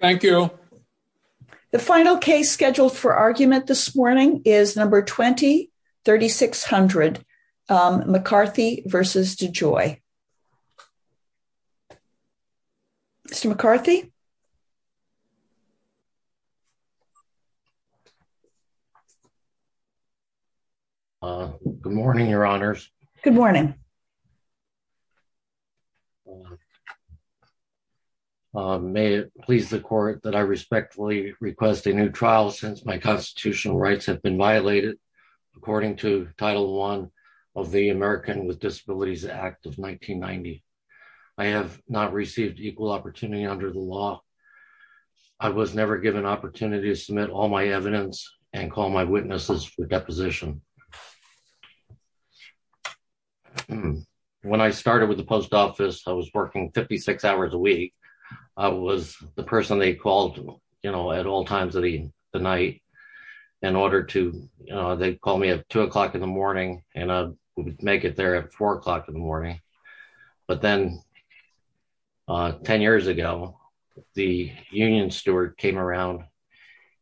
Thank you. The final case scheduled for argument this morning is number 20-3600, McCarthy v. DeJoy. Mr. McCarthy? Good morning, Your Honors. Good morning. May it please the Court that I respectfully request a new trial since my constitutional rights have been violated according to Title I of the American with Disabilities Act of 1990. I have not received equal opportunity under the law. I was never given opportunity to submit all my evidence and call my witnesses for deposition. When I started with the post office, I was working 56 hours a week. I was the person they called, you know, at all times of the night in order to, you know, they'd call me at two o'clock in the morning and I'd make it there at four o'clock in the morning. But then 10 years ago, the union steward came around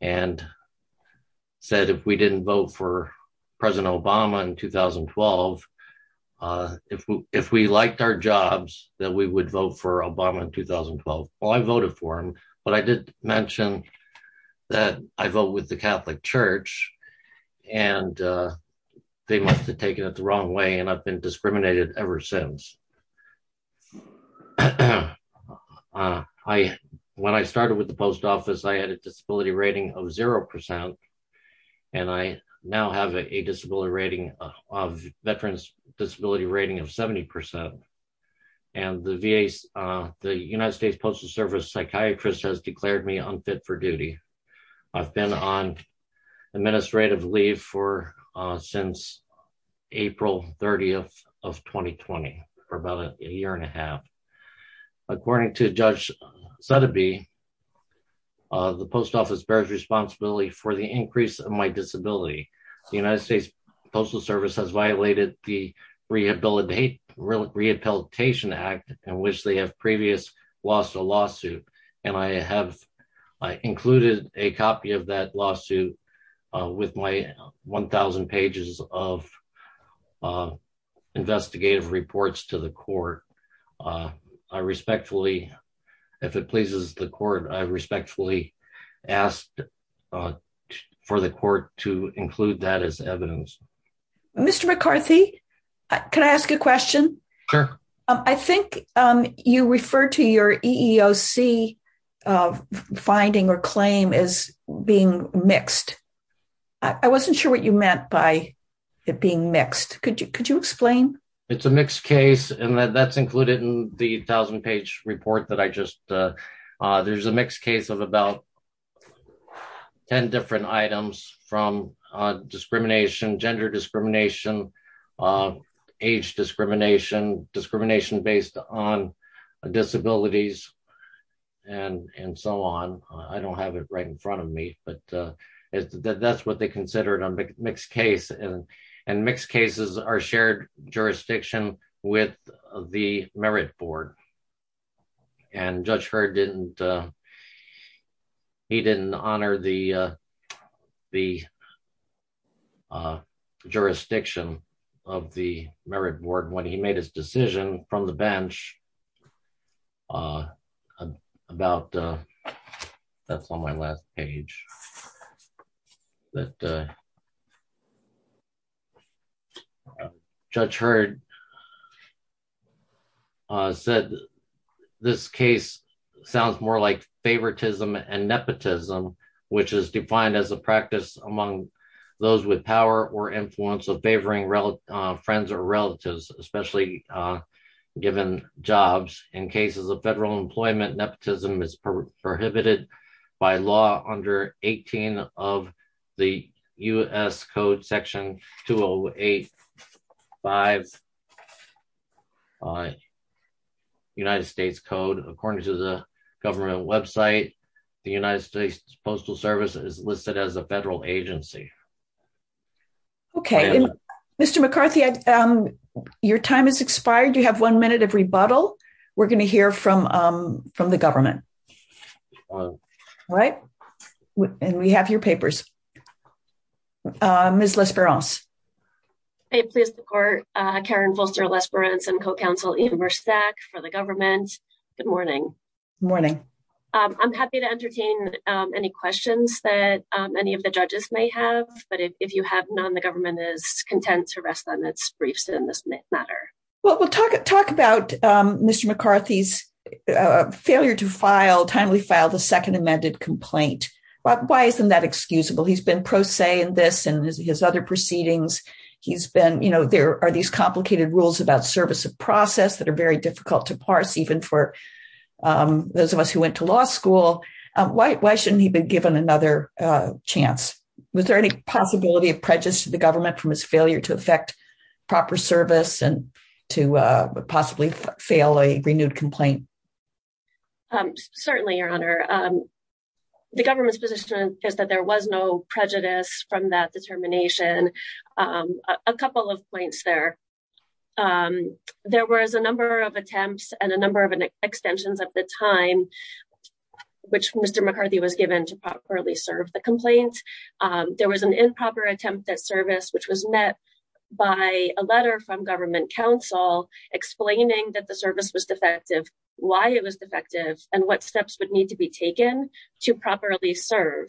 and said if we didn't vote for if we liked our jobs that we would vote for Obama in 2012. Well, I voted for him, but I did mention that I vote with the Catholic Church and they must have taken it the wrong way and I've been discriminated ever since. When I started with the post office, I had a disability rating of zero percent and I now have a disability rating of veterans disability rating of 70 percent. And the VA, the United States Postal Service psychiatrist has declared me unfit for duty. I've been on administrative leave for since April 30th of 2020 for about a year and a half. According to Judge Sotheby, the post office bears responsibility for the increase of my disability. The United States Postal Service has violated the Rehabilitation Act in which they have previous lost a lawsuit and I have included a copy of that lawsuit with my 1000 pages of investigative reports to the court. I respectfully, if it pleases the court, I respectfully asked for the court to include that as evidence. Mr. McCarthy, can I ask a question? I think you referred to your EEOC finding or claim as being mixed. I wasn't sure what you meant by it being mixed. Could you explain? It's a mixed case and that's included in the 1000 page report that I just, there's a mixed case of about 10 different items from discrimination, gender discrimination, age discrimination, discrimination based on disabilities and so on. I don't have it right in front of me, but that's what they considered a mixed case and mixed cases are shared jurisdiction with the merit board and Judge Heard didn't honor the jurisdiction of the merit board when he made his decision from the bench about, that's on my last page, that Judge Heard said this case sounds more like favoritism and nepotism, which is defined as a practice among those with power or influence of favoring friends or relatives, especially given jobs. In cases of federal employment, nepotism is prohibited by law under 18 of the U.S. Code Section 208-5 United States Code. According to the government website, the United States Postal Service is listed as a federal agency. Okay. Mr. McCarthy, your time has expired. You have one minute of rebuttal. We're going to hear from the government. All right. And we have your papers. Ms. Lesperance. I please support Karen Folster Lesperance and co-counsel Ian Bersak for the government. Good morning. Good morning. I'm happy to entertain any questions that any of the judges may have, but if you have none, the government is content to rest on its briefs in this matter. Well, we'll talk about Mr. McCarthy's failure to file, timely file, the second amended complaint. Why isn't that excusable? He's been pro se in this and his other proceedings. He's been, you know, there are these complicated rules about service of process that are very important for those of us who went to law school. Why shouldn't he be given another chance? Was there any possibility of prejudice to the government from his failure to affect proper service and to possibly fail a renewed complaint? Certainly, Your Honor. The government's position is that there was no prejudice from that determination. A couple of points there. Um, there was a number of attempts and a number of extensions at the time, which Mr. McCarthy was given to properly serve the complaint. There was an improper attempt at service, which was met by a letter from government council explaining that the service was defective, why it was defective and what steps would need to be taken to properly serve.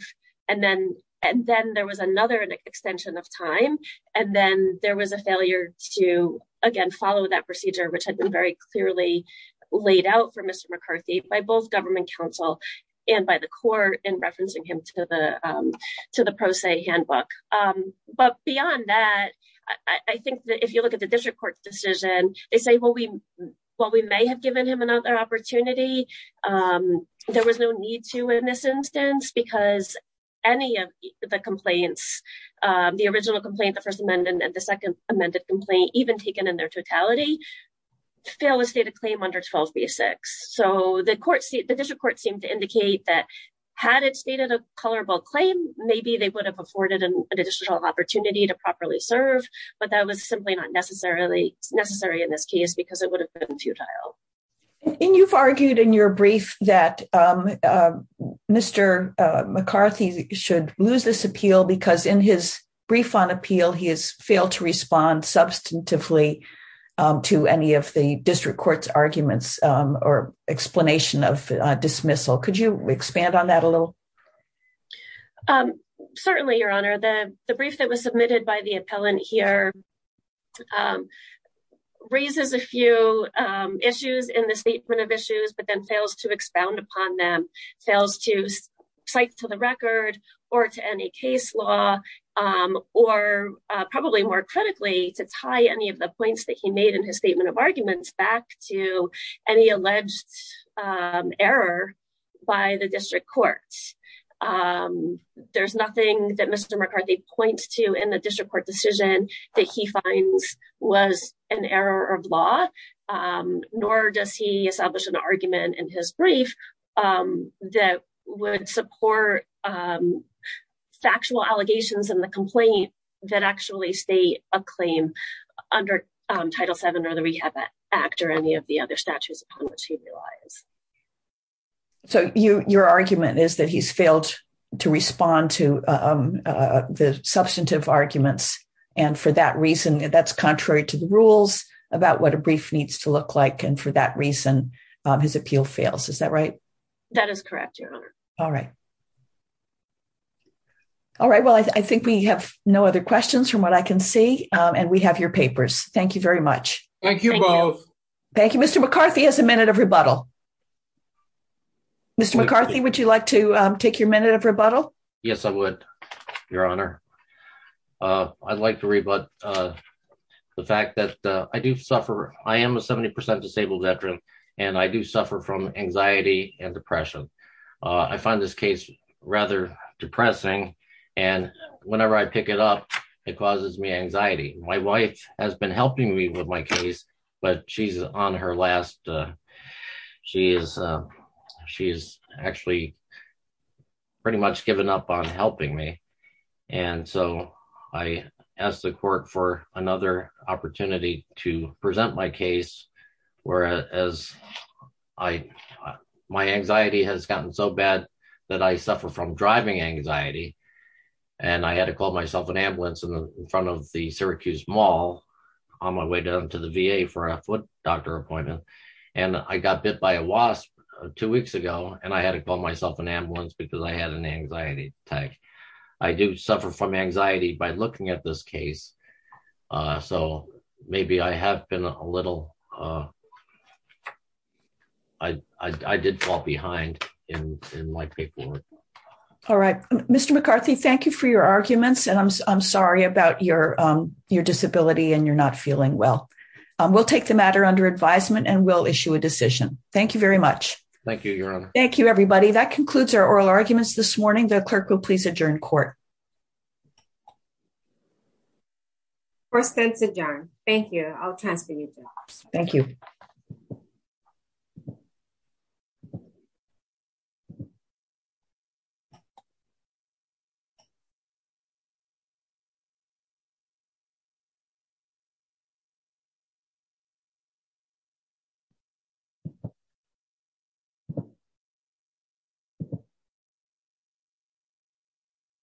And then, and then there was another extension of time. And then there was a failure to, again, follow that procedure, which had been very clearly laid out for Mr. McCarthy by both government council and by the court in referencing him to the, um, to the pro se handbook. Um, but beyond that, I think that if you look at the district court decision, they say, well, we, well, we may have given him another opportunity. Um, there was no need to in this instance, because any of the complaints, um, the original complaint, the first amendment and the second amended complaint, even taken in their totality, fail to state a claim under 12B6. So the court, the district court seemed to indicate that had it stated a colorable claim, maybe they would have afforded an additional opportunity to properly serve, but that was simply not necessarily necessary in this case, because it would have been futile. And you've argued in your brief that, um, um, Mr. McCarthy should lose this appeal because in his brief on appeal, he has failed to respond substantively, um, to any of the district court's arguments, um, or explanation of a dismissal. Could you expand on that a little? Um, certainly your honor, the, the brief that was submitted by the appellant here, um, raises a few, um, issues in the statement of issues, but then fails to expound upon them fails to cite to the record or to any case law, um, or, uh, probably more critically to tie any of the points that he made in his statement of arguments back to any alleged, um, error by the district courts. Um, there's nothing that Mr. McCarthy points to in the district court decision that he finds was an error of law. Um, nor does he establish an argument in his brief, um, that would support, um, factual allegations in the complaint that actually state a claim under, um, Title VII or the Rehab Act or any of the other statutes upon which he relies. So you, your argument is that he's failed to respond to, um, uh, the substantive arguments. And for that reason, that's contrary to the rules about what a brief needs to look like. And for that reason, um, his appeal fails. Is that right? That is correct, Your Honor. All right. All right. Well, I think we have no other questions from what I can see, um, and we have your papers. Thank you very much. Thank you both. Thank you. Mr. McCarthy has a minute of rebuttal. Mr. McCarthy, would you like to, um, take your minute of rebuttal? Yes, I would, Your Honor. Uh, I'd like to rebut, uh, the fact that, uh, I do suffer. I am a 70% disabled veteran and I do suffer from anxiety and depression. Uh, I find this case rather depressing and whenever I pick it up, it causes me anxiety. My wife has been helping me with my case, but she's on her last, uh, she is, um, she is actually pretty much given up on my case. Whereas I, my anxiety has gotten so bad that I suffer from driving anxiety. And I had to call myself an ambulance in front of the Syracuse mall on my way down to the VA for a foot doctor appointment. And I got bit by a wasp two weeks ago and I had to call myself an ambulance because I had an anxiety attack. I do suffer from anxiety by looking at this case. Uh, so maybe I have been a little, uh, I, I, I did fall behind in, in my paperwork. All right. Mr. McCarthy, thank you for your arguments and I'm, I'm sorry about your, um, your disability and you're not feeling well. Um, we'll take the matter under advisement and we'll issue a decision. Thank you very much. Thank you, Your Honor. Thank you, everybody. That concludes our oral arguments this morning. The clerk will please adjourn court. First, thanks, John. Thank you. I'll transfer you. Thank you. Thank you.